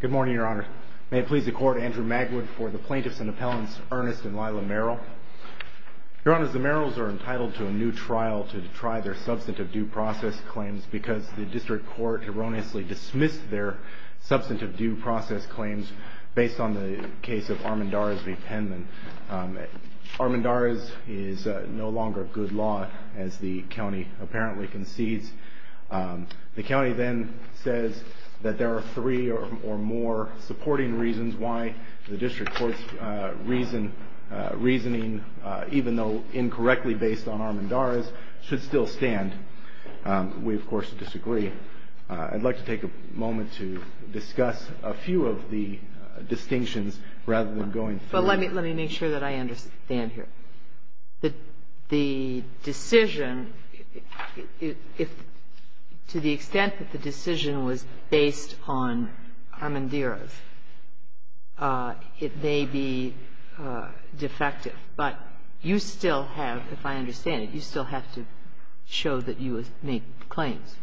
Good morning, Your Honor. May it please the Court, Andrew Magwood for the plaintiffs and appellants, Ernest and Lila Merrill. Your Honor, the Merrills are entitled to a new trial to detry their substantive due process claims because the district court erroneously dismissed their substantive due process claims based on the case of Armendariz v. Penman. Armendariz is no longer good law, as the county apparently concedes. The county then says that there are three or more supporting reasons why the district court's reasoning, even though incorrectly based on Armendariz, should still stand. We, of course, disagree. I'd like to take a moment to discuss a few of the distinctions rather than going through them. Let me make sure that I understand here. The decision, to the extent that the decision was based on Armendariz, it may be defective, but you still have, if I understand it, you still have to show that you make claims.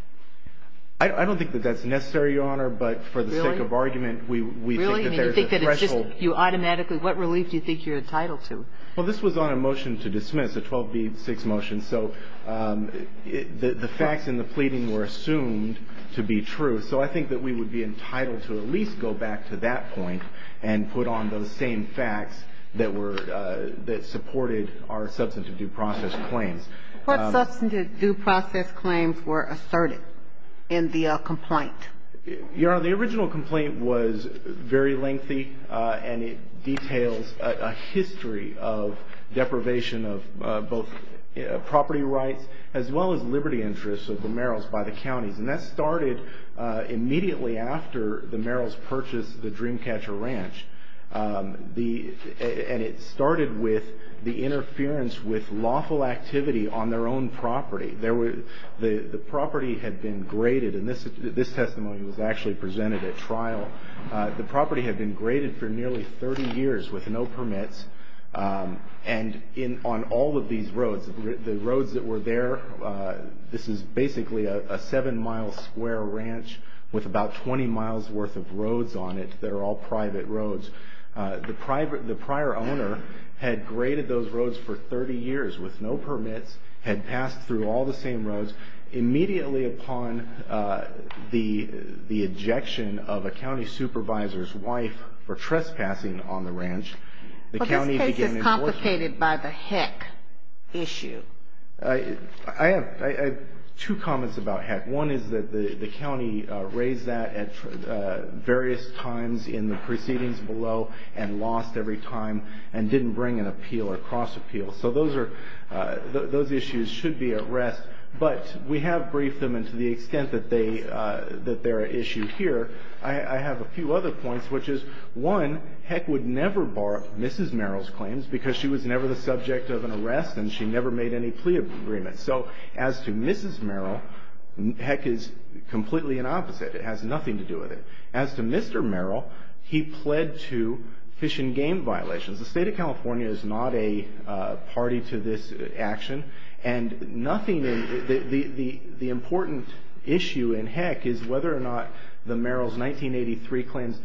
I don't think that that's necessary, Your Honor, but for the sake of argument, we think that there's a threshold. You automatically, what relief do you think you're entitled to? Well, this was on a motion to dismiss, a 12B6 motion, so the facts in the pleading were assumed to be true. So I think that we would be entitled to at least go back to that point and put on those same facts that were, that supported our substantive due process claims. What substantive due process claims were asserted in the complaint? Your Honor, the original complaint was very lengthy, and it details a history of deprivation of both property rights, as well as liberty interests of the Merrills by the counties. And that started immediately after the Merrills purchased the Dreamcatcher Ranch. And it started with the interference with lawful activity on their own property. The property had been graded, and this testimony was actually presented at trial, the property had been graded for nearly 30 years with no permits, and on all of these roads, the roads that were there, this is basically a seven-mile square ranch with about 20 miles worth of roads on it that are all private roads, the prior owner had graded those roads for 30 years with no permits, had passed through all the same roads. Immediately upon the ejection of a county supervisor's wife for trespassing on the ranch, the county began to... But this case is complicated by the heck issue. I have two comments about heck. One is that the county raised that at various times in the proceedings below, and lost every time, and didn't bring an appeal or cross-appeal. So those issues should be at rest. But we have briefed them, and to the extent that they are issued here, I have a few other points, which is, one, heck would never bar Mrs. Merrill's claims because she was never the subject of an arrest, and she never made any plea agreements. So as to Mrs. Merrill, heck is completely the opposite. It has nothing to do with it. As to Mr. Merrill, he pled to fish and game violations. The state of California is not a party to this action, and nothing... The important issue in heck is whether or not the Merrill's 1983 claims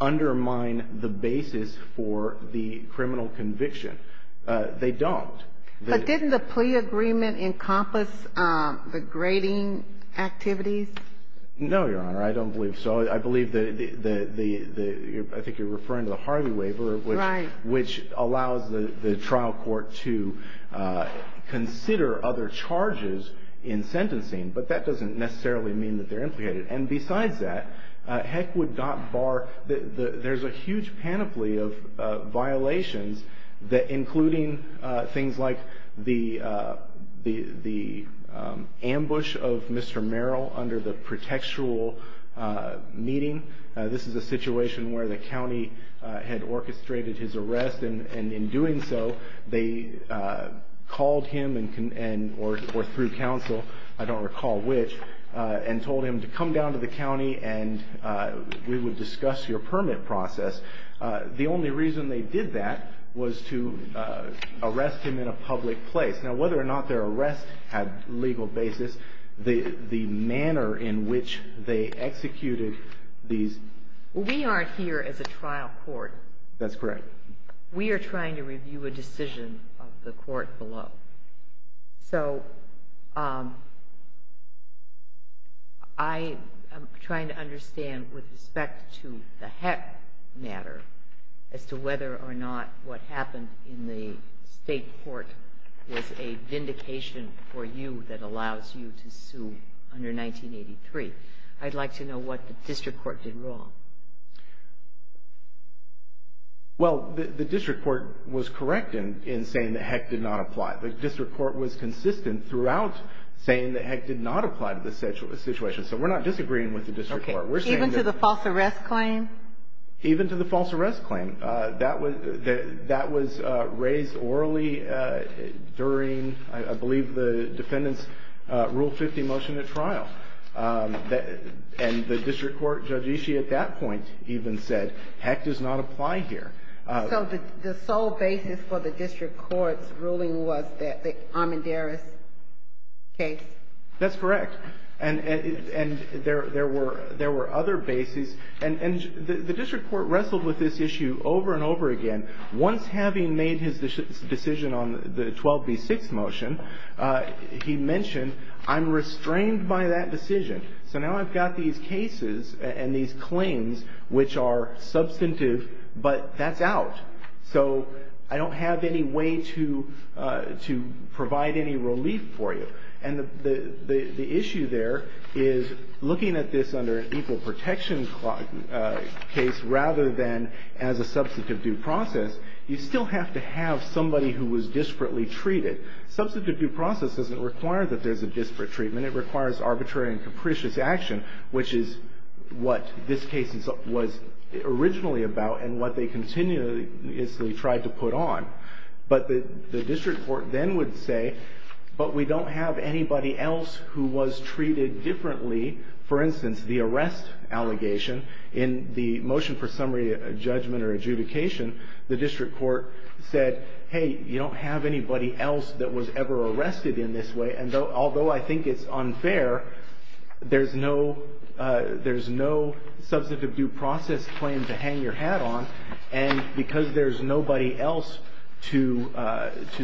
undermine the basis for the criminal conviction. They don't. But didn't the plea agreement encompass the grading activities? No, Your Honor. I don't believe so. I believe that the... I think you're referring to the Harvey Waiver, which allows the trial court to consider other charges in sentencing, but that doesn't necessarily mean that they're implicated. And besides that, heck would not bar... There's a huge panoply of violations, including things like the ambush of Mr. Merrill under the protectual meeting. This is a situation where the county had orchestrated his arrest, and in doing so, they called him, or through counsel, I don't recall which, and told him to come down to the county and we would discuss your permit process. The only reason they did that was to arrest him in a public place. Now, whether or not their arrest had legal basis, the manner in which they executed these... We aren't here as a trial court. That's correct. We are trying to review a decision of the court below. I am trying to understand, with respect to the heck matter, as to whether or not what happened in the state court was a vindication for you that allows you to sue under 1983. I'd like to know what the district court did wrong. Well, the district court was correct in saying that heck did not apply. The district court was consistent throughout saying that heck did not apply to this situation, so we're not disagreeing with the district court. Even to the false arrest claim? Even to the false arrest claim. That was raised orally during, I believe, the defendant's Rule 50 motion at trial. And the district court, Judge Ishii, at that point even said, heck does not apply here. So the sole basis for the district court's ruling was the Armendariz case? That's correct. And there were other bases. And the district court wrestled with this issue over and over again. Once having made his decision on the 12B6 motion, he mentioned, I'm restrained by that decision. So now I've got these cases and these claims which are substantive, but that's out. So I don't have any way to provide any relief for you. And the issue there is looking at this under an equal protection case rather than as a substantive due process, you still have to have somebody who was disparately treated. Substantive due process doesn't require that there's a disparate treatment. It requires arbitrary and capricious action, which is what this case was originally about and what they continuously tried to put on. But the district court then would say, but we don't have anybody else who was treated differently. For instance, the arrest allegation in the motion for summary judgment or adjudication, the district court said, hey, you don't have anybody else that was ever arrested in this way. And although I think it's unfair, there's no substantive due process claim to hang your hat on. And because there's nobody else to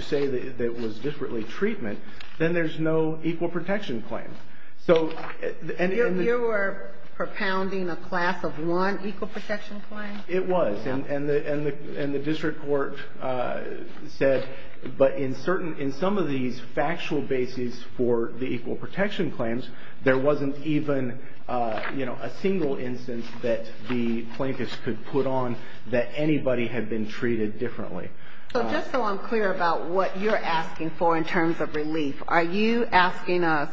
say that it was disparately treatment, then there's no equal protection claim. And you were propounding a class of one equal protection claim? It was. And the district court said, but in some of these factual bases for the equal protection claims, there wasn't even, you know, a single instance that the plaintiffs could put on that anybody had been treated differently. So just so I'm clear about what you're asking for in terms of relief, are you asking us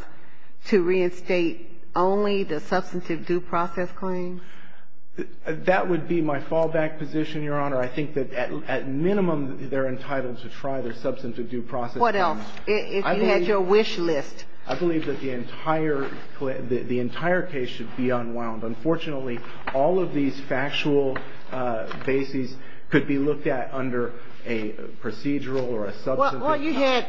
to reinstate only the substantive due process claims? That would be my fallback position, Your Honor. I think that at minimum, they're entitled to try their substantive due process claims. What else? If you had your wish list. I believe that the entire case should be unwound. Unfortunately, all of these factual bases could be looked at under a procedural or a substantive. Well, you had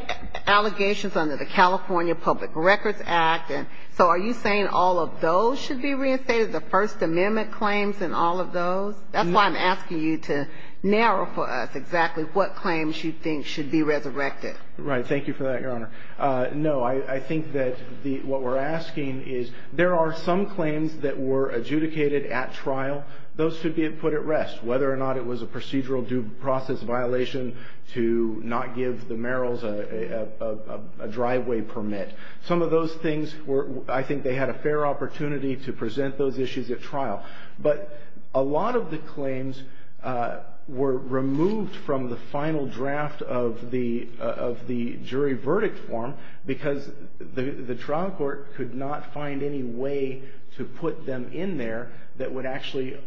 allegations under the California Public Records Act. And so are you saying all of those should be reinstated, the First Amendment claims and all of those? That's why I'm asking you to narrow for us exactly what claims you think should be resurrected. Right. Thank you for that, Your Honor. No. I think that what we're asking is there are some claims that were adjudicated at trial. Those should be put at rest, whether or not it was a procedural due process violation to not give the merrills a driveway permit. Some of those things, I think they had a fair opportunity to present those issues at trial. But a lot of the claims were removed from the final draft of the jury verdict form, because the trial court could not find any way to put them in there that would actually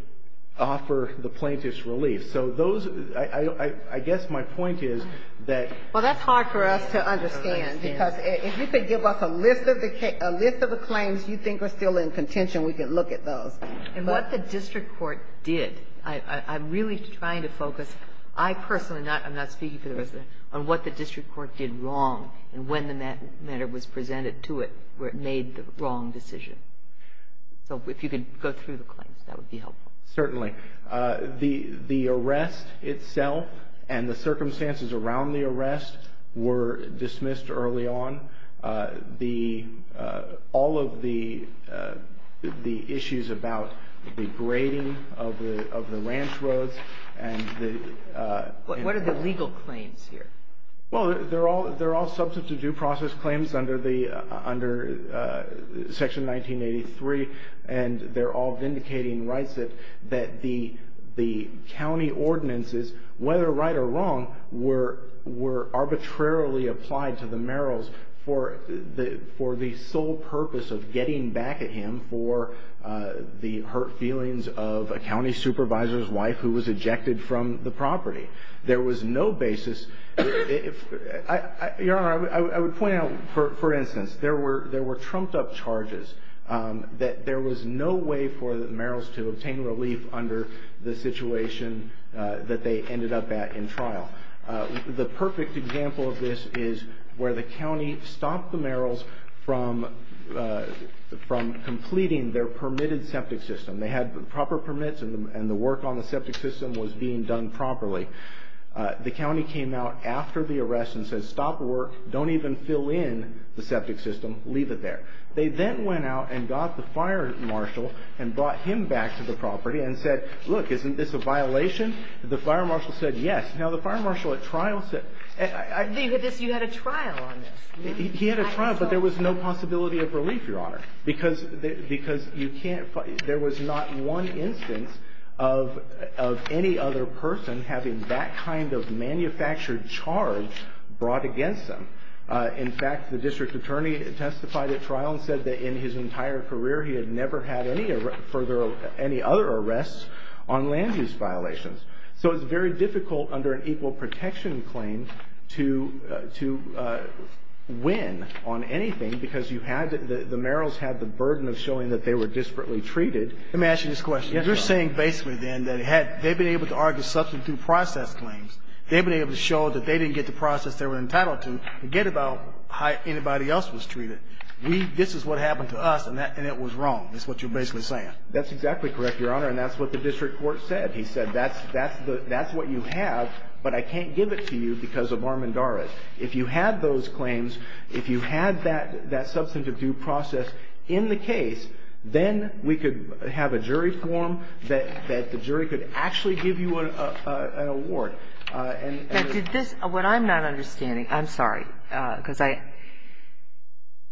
offer the plaintiff's relief. So those, I guess my point is that. Well, that's hard for us to understand. Because if you could give us a list of the claims you think are still in contention, we could look at those. And what the district court did. I'm really trying to focus. I personally am not speaking for the residents. On what the district court did wrong and when the matter was presented to it where it made the wrong decision. So if you could go through the claims, that would be helpful. Certainly. The arrest itself and the circumstances around the arrest were dismissed early on. All of the issues about the grading of the ranch roads. What are the legal claims here? Well, they're all substantive due process claims under Section 1983. And they're all vindicating rights that the county ordinances, whether right or wrong, were arbitrarily applied to the Merrills for the sole purpose of getting back at him for the hurt feelings of a county supervisor's wife who was ejected from the property. There was no basis. Your Honor, I would point out, for instance, there were trumped up charges. There was no way for the Merrills to obtain relief under the situation that they ended up at in trial. The perfect example of this is where the county stopped the Merrills from completing their permitted septic system. They had proper permits and the work on the septic system was being done properly. The county came out after the arrest and said, stop the work. Don't even fill in the septic system. Leave it there. They then went out and got the fire marshal and brought him back to the property and said, look, isn't this a violation? The fire marshal said yes. Now, the fire marshal at trial said. You had a trial on this. He had a trial, but there was no possibility of relief, Your Honor, because you can't. There was not one instance of any other person having that kind of manufactured charge brought against them. In fact, the district attorney testified at trial and said that in his entire career, he had never had any further, any other arrests on land use violations. So it's very difficult under an equal protection claim to win on anything because you had, the Merrills had the burden of showing that they were desperately treated. Let me ask you this question. You're saying basically, then, that they've been able to argue something through process claims. They've been able to show that they didn't get the process they were entitled to. Forget about how anybody else was treated. This is what happened to us, and it was wrong, is what you're basically saying. That's exactly correct, Your Honor, and that's what the district court said. He said that's what you have, but I can't give it to you because of Armendariz. If you had those claims, if you had that substantive due process in the case, then we could have a jury form that the jury could actually give you an award. Did this, what I'm not understanding, I'm sorry, because I,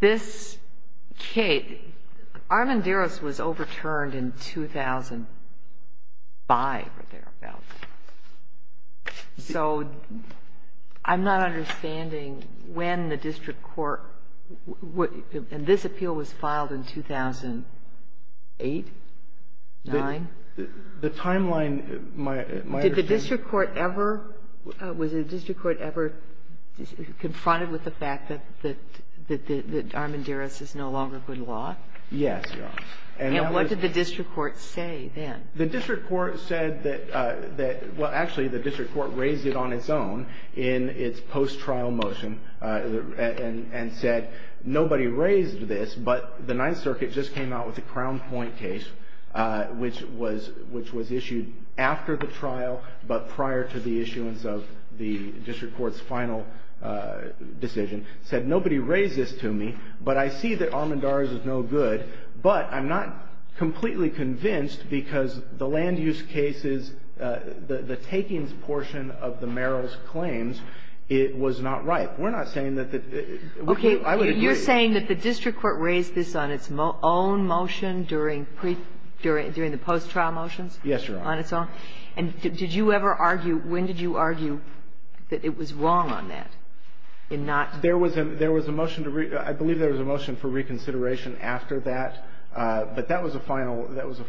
this case, Armendariz was overturned in 2005 or thereabouts. So I'm not understanding when the district court, and this appeal was filed in 2008, 2009? The timeline, my understanding. Was the district court ever confronted with the fact that Armendariz is no longer good law? Yes, Your Honor. And what did the district court say then? The district court said that, well, actually, the district court raised it on its own in its post-trial motion and said, nobody raised this, but the Ninth Circuit just came out with the Crown Point case, which was issued after the trial, but prior to the issuance of the district court's final decision, said, nobody raised this to me, but I see that Armendariz is no good. But I'm not completely convinced because the land use cases, the takings portion of the Merrill's claims, it was not right. We're not saying that the, I would agree. Okay. You're saying that the district court raised this on its own motion during the post-trial motions? Yes, Your Honor. On its own? And did you ever argue, when did you argue that it was wrong on that, in not? There was a motion to, I believe there was a motion for reconsideration after that, but that was a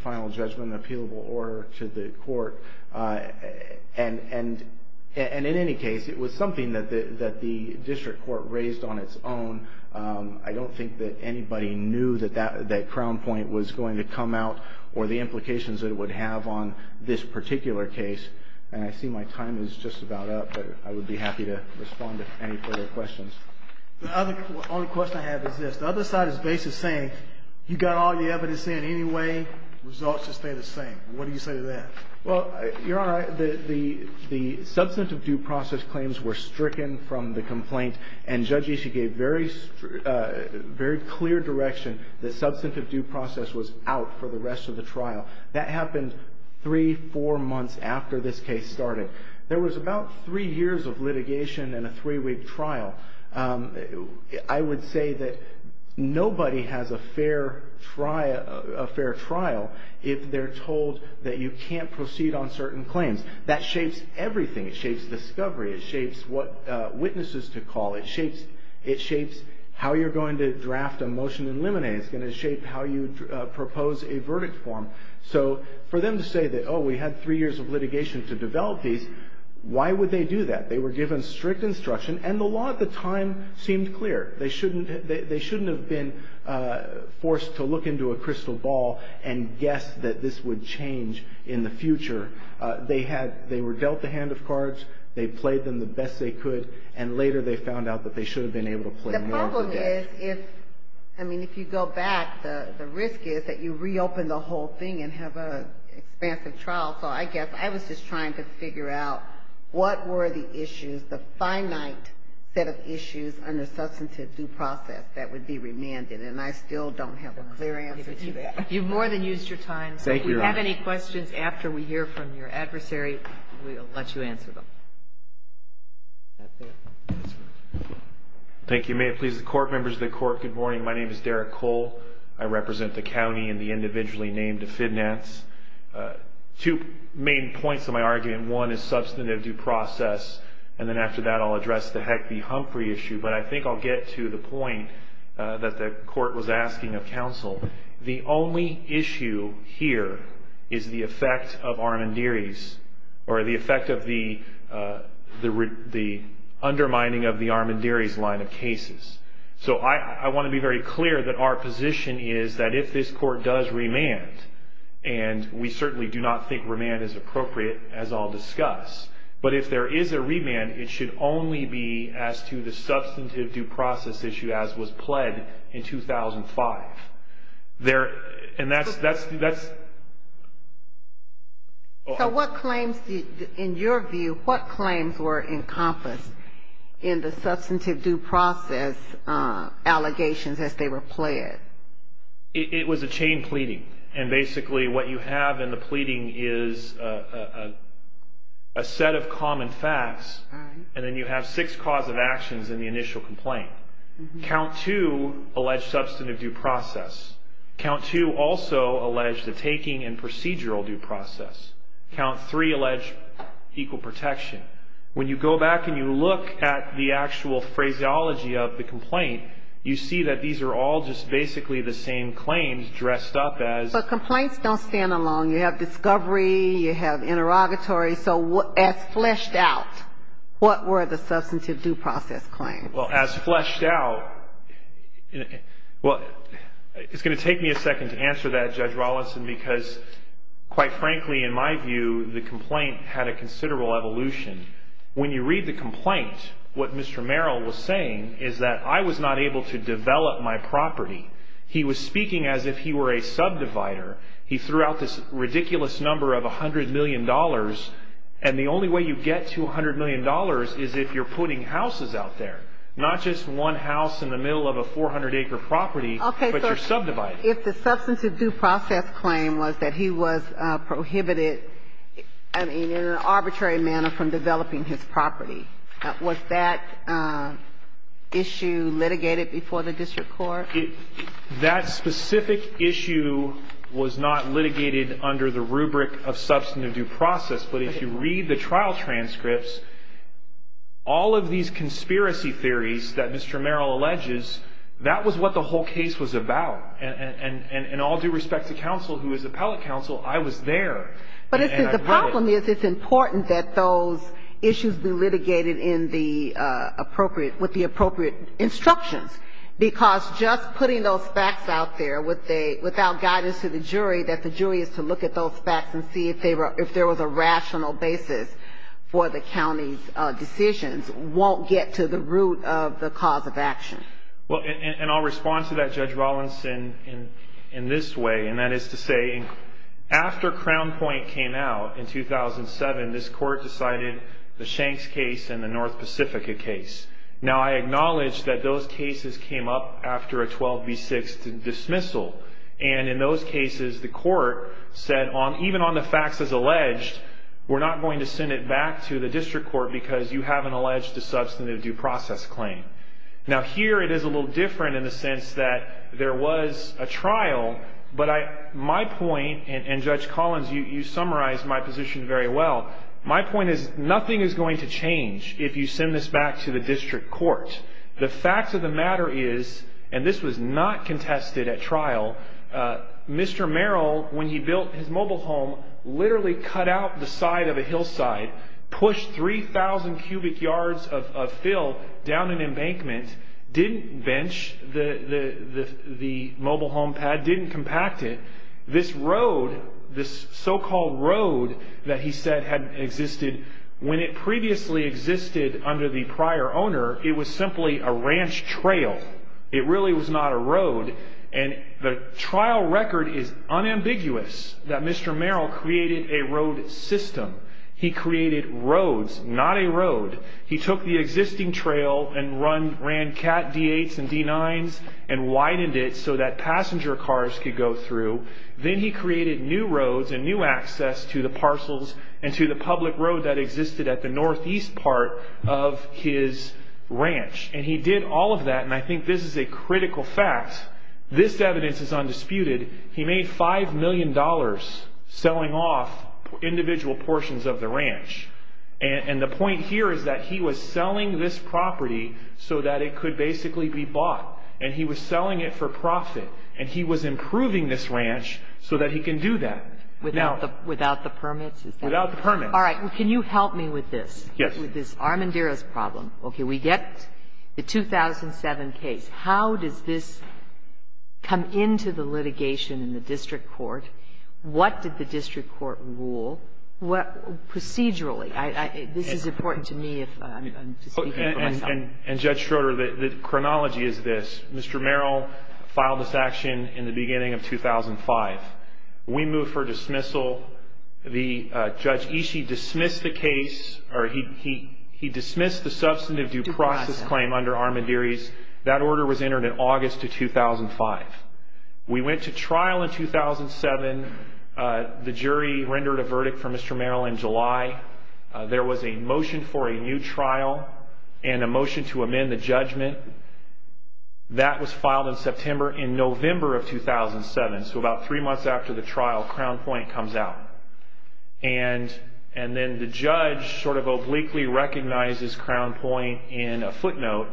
final judgment, an appealable order to the court. And in any case, it was something that the district court raised on its own. I don't think that anybody knew that that Crown Point was going to come out or the implications that it would have on this particular case. And I see my time is just about up, but I would be happy to respond to any further questions. The only question I have is this. The other side is basically saying, you got all the evidence in anyway, results just stay the same. What do you say to that? Well, Your Honor, the substantive due process claims were stricken from the complaint, and Judge Ishii gave very clear direction that substantive due process was out for the rest of the trial. That happened three, four months after this case started. There was about three years of litigation and a three-week trial. I would say that nobody has a fair trial if they're told that you can't proceed on certain claims. That shapes everything. It shapes discovery. It shapes what witnesses to call. It shapes how you're going to draft a motion in limine. It's going to shape how you propose a verdict form. So for them to say that, oh, we had three years of litigation to develop these, why would they do that? They were given strict instruction, and the law at the time seemed clear. They shouldn't have been forced to look into a crystal ball and guess that this would change in the future. They were dealt the hand of cards. They played them the best they could, and later they found out that they should have been able to play more. The problem is, I mean, if you go back, the risk is that you reopen the whole thing and have an expansive trial. So I guess I was just trying to figure out what were the issues, the finite set of issues under substantive due process that would be remanded, and I still don't have a clear answer to that. You've more than used your time. Thank you, Your Honor. If you have any questions after we hear from your adversary, we'll let you answer them. Thank you. May it please the Court, members of the Court, good morning. My name is Derek Cole. I represent the county and the individually named FIDNATs. Two main points of my argument. One is substantive due process, and then after that I'll address the Heck v. Humphrey issue, but I think I'll get to the point that the Court was asking of counsel. The only issue here is the effect of Armandiris or the effect of the undermining of the Armandiris line of cases. So I want to be very clear that our position is that if this Court does remand, and we certainly do not think remand is appropriate, as I'll discuss, but if there is a remand, it should only be as to the substantive due process issue as was pled in 2005. And that's... So what claims, in your view, what claims were encompassed in the substantive due process allegations as they were pled? It was a chain pleading, and basically what you have in the pleading is a set of common facts, and then you have six cause of actions in the initial complaint. Count two alleged substantive due process. Count two also alleged the taking and procedural due process. Count three alleged equal protection. When you go back and you look at the actual phraseology of the complaint, you see that these are all just basically the same claims dressed up as... But complaints don't stand alone. You have discovery. You have interrogatory. So as fleshed out, what were the substantive due process claims? Well, as fleshed out... Well, it's going to take me a second to answer that, Judge Rawlinson, because quite frankly, in my view, the complaint had a considerable evolution. When you read the complaint, what Mr. Merrill was saying is that I was not able to develop my property. He was speaking as if he were a subdivider. He threw out this ridiculous number of $100 million, and the only way you get to $100 million is if you're putting houses out there, not just one house in the middle of a 400-acre property, but you're subdividing. If the substantive due process claim was that he was prohibited, I mean, in an arbitrary manner from developing his property, was that issue litigated before the district court? That specific issue was not litigated under the rubric of substantive due process. But if you read the trial transcripts, all of these conspiracy theories that Mr. Merrill alleges, that was what the whole case was about. And all due respect to counsel, who is appellate counsel, I was there. But the problem is it's important that those issues be litigated in the appropriate instructions, because just putting those facts out there without guidance to the jury, that the jury is to look at those facts and see if there was a rational basis for the county's decisions, won't get to the root of the cause of action. And I'll respond to that, Judge Rollins, in this way, and that is to say, after Crown Point came out in 2007, this court decided the Shanks case and the North Pacifica case. Now, I acknowledge that those cases came up after a 12 v. 6 dismissal. And in those cases, the court said, even on the facts as alleged, we're not going to send it back to the district court because you haven't alleged a substantive due process claim. Now, here it is a little different in the sense that there was a trial, but my point, and Judge Collins, you summarized my position very well, my point is nothing is going to change if you send this back to the district court. The fact of the matter is, and this was not contested at trial, Mr. Merrill, when he built his mobile home, literally cut out the side of a hillside, pushed 3,000 cubic yards of fill down an embankment, didn't bench the mobile home pad, didn't compact it. This road, this so-called road that he said had existed, when it previously existed under the prior owner, it was simply a ranch trail. It really was not a road. And the trial record is unambiguous that Mr. Merrill created a road system. He created roads, not a road. He took the existing trail and ran Cat D8s and D9s and widened it so that passenger cars could go through. Then he created new roads and new access to the parcels and to the public road that existed at the northeast part of his ranch. And he did all of that, and I think this is a critical fact. This evidence is undisputed. He made $5 million selling off individual portions of the ranch. And the point here is that he was selling this property so that it could basically be bought. And he was selling it for profit. And he was improving this ranch so that he can do that. Without the permits? Without the permits. All right. Well, can you help me with this? Yes. With this Armanderas problem. Okay. We get the 2007 case. How does this come into the litigation in the district court? What did the district court rule? Procedurally. This is important to me if I'm speaking for myself. And Judge Schroeder, the chronology is this. Mr. Merrill filed this action in the beginning of 2005. We moved for dismissal. Judge Ishii dismissed the case, or he dismissed the substantive due process claim under Armanderas. That order was entered in August of 2005. We went to trial in 2007. The jury rendered a verdict for Mr. Merrill in July. There was a motion for a new trial and a motion to amend the judgment. That was filed in September. In November of 2007, so about three months after the trial, Crown Point comes out. And then the judge sort of obliquely recognizes Crown Point in a footnote.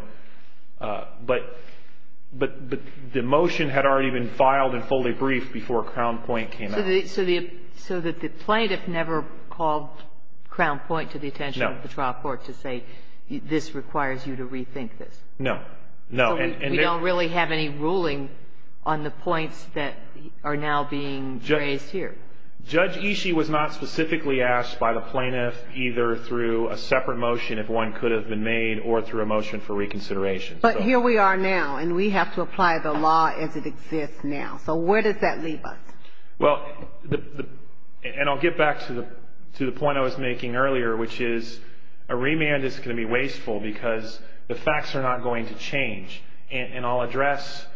But the motion had already been filed and fully briefed before Crown Point came out. So the plaintiff never called Crown Point to the attention of the trial court to say this requires you to rethink this? No, no. So we don't really have any ruling on the points that are now being raised here? Judge Ishii was not specifically asked by the plaintiff either through a separate motion, if one could have been made, or through a motion for reconsideration. But here we are now, and we have to apply the law as it exists now. So where does that leave us? Well, and I'll get back to the point I was making earlier, which is a remand is going to be wasteful because the facts are not going to change. And I'll address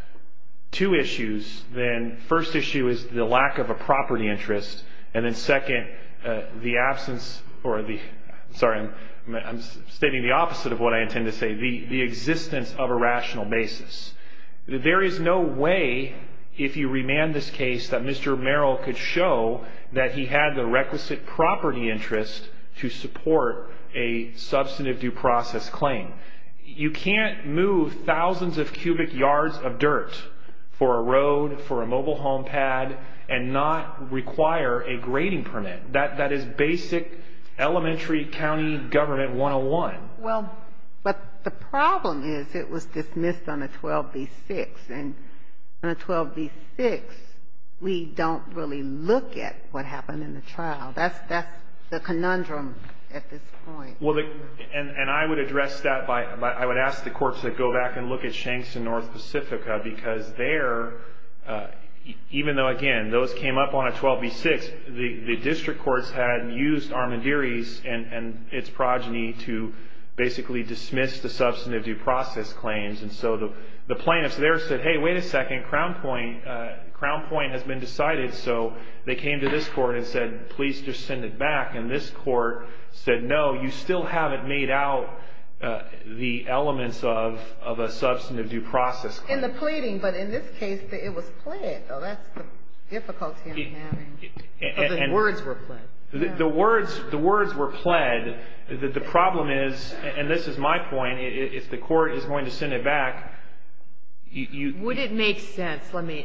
two issues. Then first issue is the lack of a property interest. And then second, the absence, or the, sorry, I'm stating the opposite of what I intend to say, the existence of a rational basis. There is no way, if you remand this case, that Mr. Merrill could show that he had the requisite property interest to support a substantive due process claim. You can't move thousands of cubic yards of dirt for a road, for a mobile home pad, and not require a grading permit. That is basic elementary county government 101. Well, but the problem is it was dismissed on a 12B6. And on a 12B6, we don't really look at what happened in the trial. That's the conundrum at this point. Well, and I would address that by, I would ask the courts to go back and look at Shanks and North Pacifica because there, even though, again, those came up on a 12B6, the district courts had used Armandiris and its progeny to basically dismiss the substantive due process claims. And so the plaintiffs there said, hey, wait a second, Crown Point has been decided. So they came to this court and said, please just send it back. And this court said, no, you still haven't made out the elements of a substantive due process claim. In the pleading, but in this case, it was pled, though. That's the difficulty I'm having. The words were pled. The words were pled. The problem is, and this is my point, if the court is going to send it back, you — Would it make sense, let me,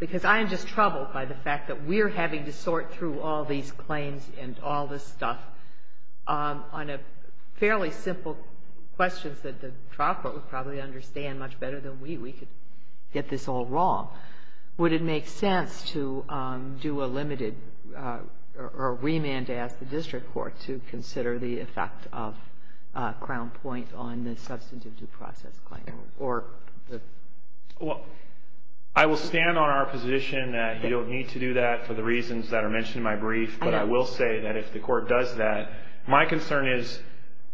because I am just troubled by the fact that we're having to sort through all these claims and all this stuff on a fairly simple questions that the trial court would probably understand much better than we. We could get this all wrong. Would it make sense to do a limited or remand to ask the district court to consider the effect of Crown Point on the substantive due process claim or the — Well, I will stand on our position that you don't need to do that for the reasons that are mentioned in my brief. But I will say that if the court does that, my concern is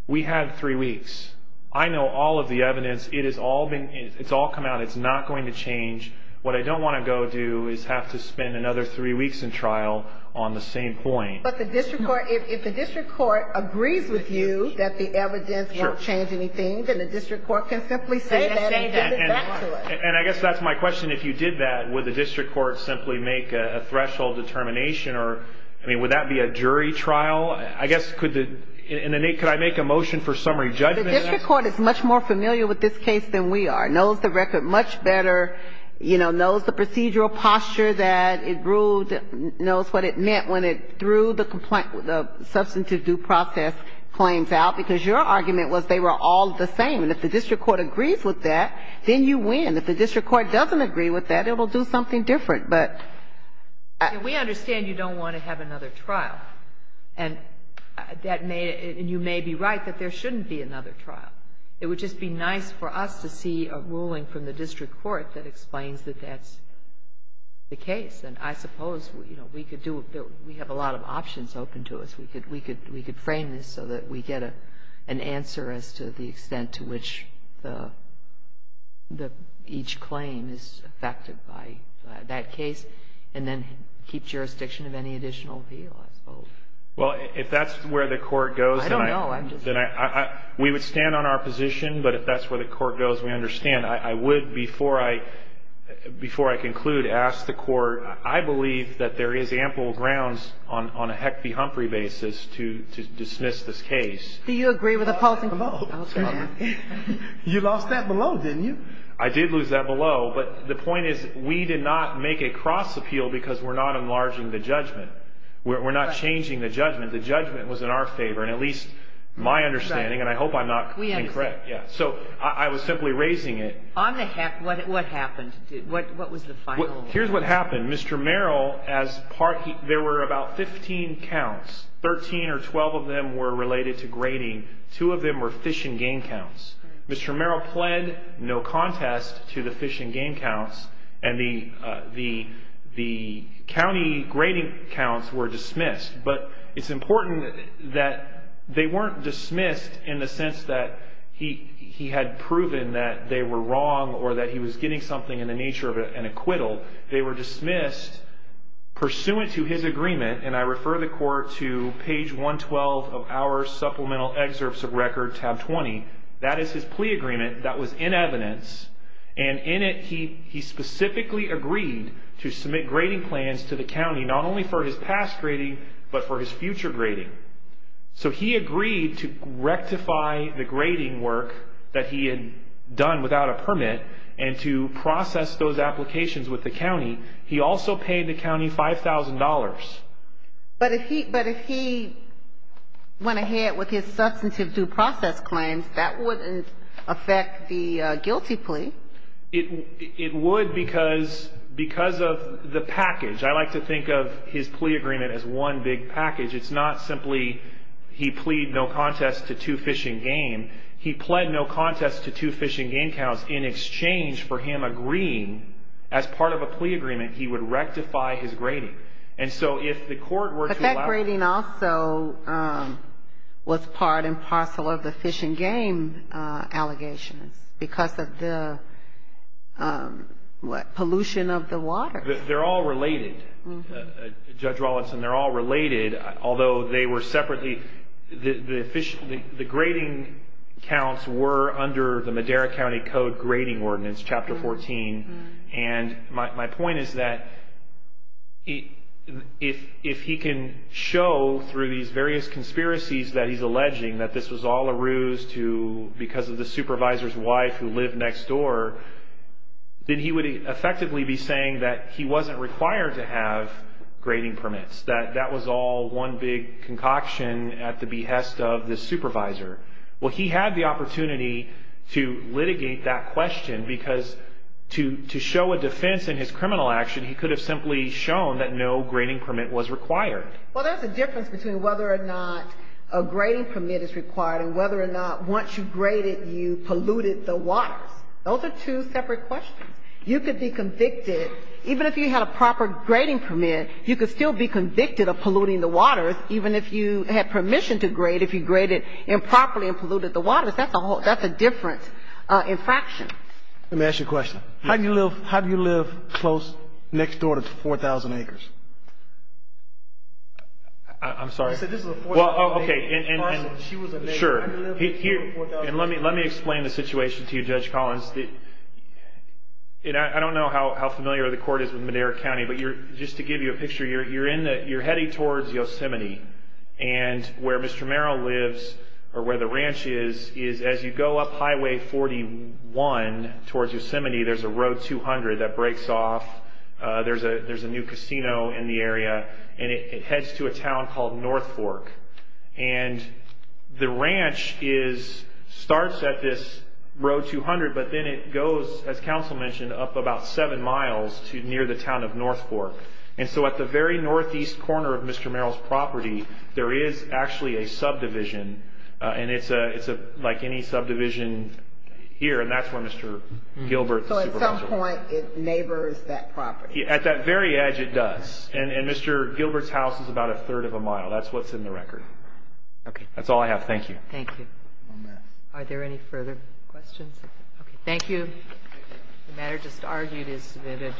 we have three weeks. I know all of the evidence. It has all been — it's all come out. It's not going to change. What I don't want to go do is have to spend another three weeks in trial on the same point. But the district court — if the district court agrees with you that the evidence won't change anything, then the district court can simply say that and give it back to us. And I guess that's my question. If you did that, would the district court simply make a threshold determination or — I mean, would that be a jury trial? I guess, could the — and then, Nate, could I make a motion for summary judgment on that? The district court is much more familiar with this case than we are, knows the record much better, you know, knows what it meant when it threw the substantive due process claims out, because your argument was they were all the same. And if the district court agrees with that, then you win. If the district court doesn't agree with that, it will do something different. But — We understand you don't want to have another trial. And that may — and you may be right that there shouldn't be another trial. It would just be nice for us to see a ruling from the district court that explains that that's the case. And I suppose, you know, we could do — we have a lot of options open to us. We could frame this so that we get an answer as to the extent to which each claim is affected by that case and then keep jurisdiction of any additional appeal, I suppose. Well, if that's where the court goes, then I — I don't know. I'm just — We would stand on our position. But if that's where the court goes, we understand. And I would, before I conclude, ask the court. I believe that there is ample grounds on a Heck v. Humphrey basis to dismiss this case. Do you agree with the policy? You lost that below, didn't you? I did lose that below. But the point is, we did not make a cross appeal because we're not enlarging the judgment. We're not changing the judgment. The judgment was in our favor, and at least my understanding. And I hope I'm not incorrect. We understand. Yeah. So I was simply raising it. On the — what happened? What was the final? Here's what happened. Mr. Merrill, as part — there were about 15 counts. Thirteen or 12 of them were related to grading. Two of them were fish and game counts. Mr. Merrill pled no contest to the fish and game counts, and the county grading counts were dismissed. But it's important that they weren't dismissed in the sense that he had proven that they were wrong or that he was getting something in the nature of an acquittal. They were dismissed pursuant to his agreement. And I refer the court to page 112 of our supplemental excerpts of record, tab 20. That is his plea agreement. That was in evidence. And in it, he specifically agreed to submit grading plans to the county, not only for his past grading, but for his future grading. So he agreed to rectify the grading work that he had done without a permit and to process those applications with the county. He also paid the county $5,000. But if he went ahead with his substantive due process claims, that wouldn't affect the guilty plea. It would because of the package. I like to think of his plea agreement as one big package. It's not simply he plead no contest to two fish and game. He plead no contest to two fish and game counts in exchange for him agreeing, as part of a plea agreement, he would rectify his grading. And so if the court were to allow it. But that grading also was part and parcel of the fish and game allegations because of the, what, pollution of the water. They're all related, Judge Rawlinson. They're all related, although they were separately. The grading counts were under the Madera County Code grading ordinance, Chapter 14. And my point is that if he can show through these various conspiracies that he's alleging that this was all a ruse to, because of the supervisor's wife who lived next door, then he would effectively be saying that he wasn't required to have grading permits. That that was all one big concoction at the behest of the supervisor. Well, he had the opportunity to litigate that question because to show a defense in his criminal action, he could have simply shown that no grading permit was required. Well, there's a difference between whether or not a grading permit is required and whether or not once you graded, you polluted the waters. Those are two separate questions. You could be convicted, even if you had a proper grading permit, you could still be convicted of polluting the waters, even if you had permission to grade, if you graded improperly and polluted the waters. That's a whole, that's a different infraction. Let me ask you a question. How do you live, how do you live close, next door to 4,000 acres? I'm sorry. I said this was a 4,000 acre. Well, okay. She was a neighbor. Sure. I live next door to 4,000 acres. Let me explain the situation to you, Judge Collins. I don't know how familiar the court is with Madera County, but just to give you a picture, you're heading towards Yosemite, and where Mr. Merrill lives or where the ranch is, is as you go up Highway 41 towards Yosemite, there's a Road 200 that breaks off. There's a new casino in the area, and it heads to a town called North Fork. And the ranch starts at this Road 200, but then it goes, as counsel mentioned, up about seven miles to near the town of North Fork. And so at the very northeast corner of Mr. Merrill's property, there is actually a subdivision, and it's like any subdivision here, and that's where Mr. Gilbert is. So at some point, it neighbors that property. At that very edge, it does, and Mr. Gilbert's house is about a third of a mile. That's what's in the record. That's all I have. Thank you. Thank you. Are there any further questions? Okay. Thank you. The matter just argued is submitted.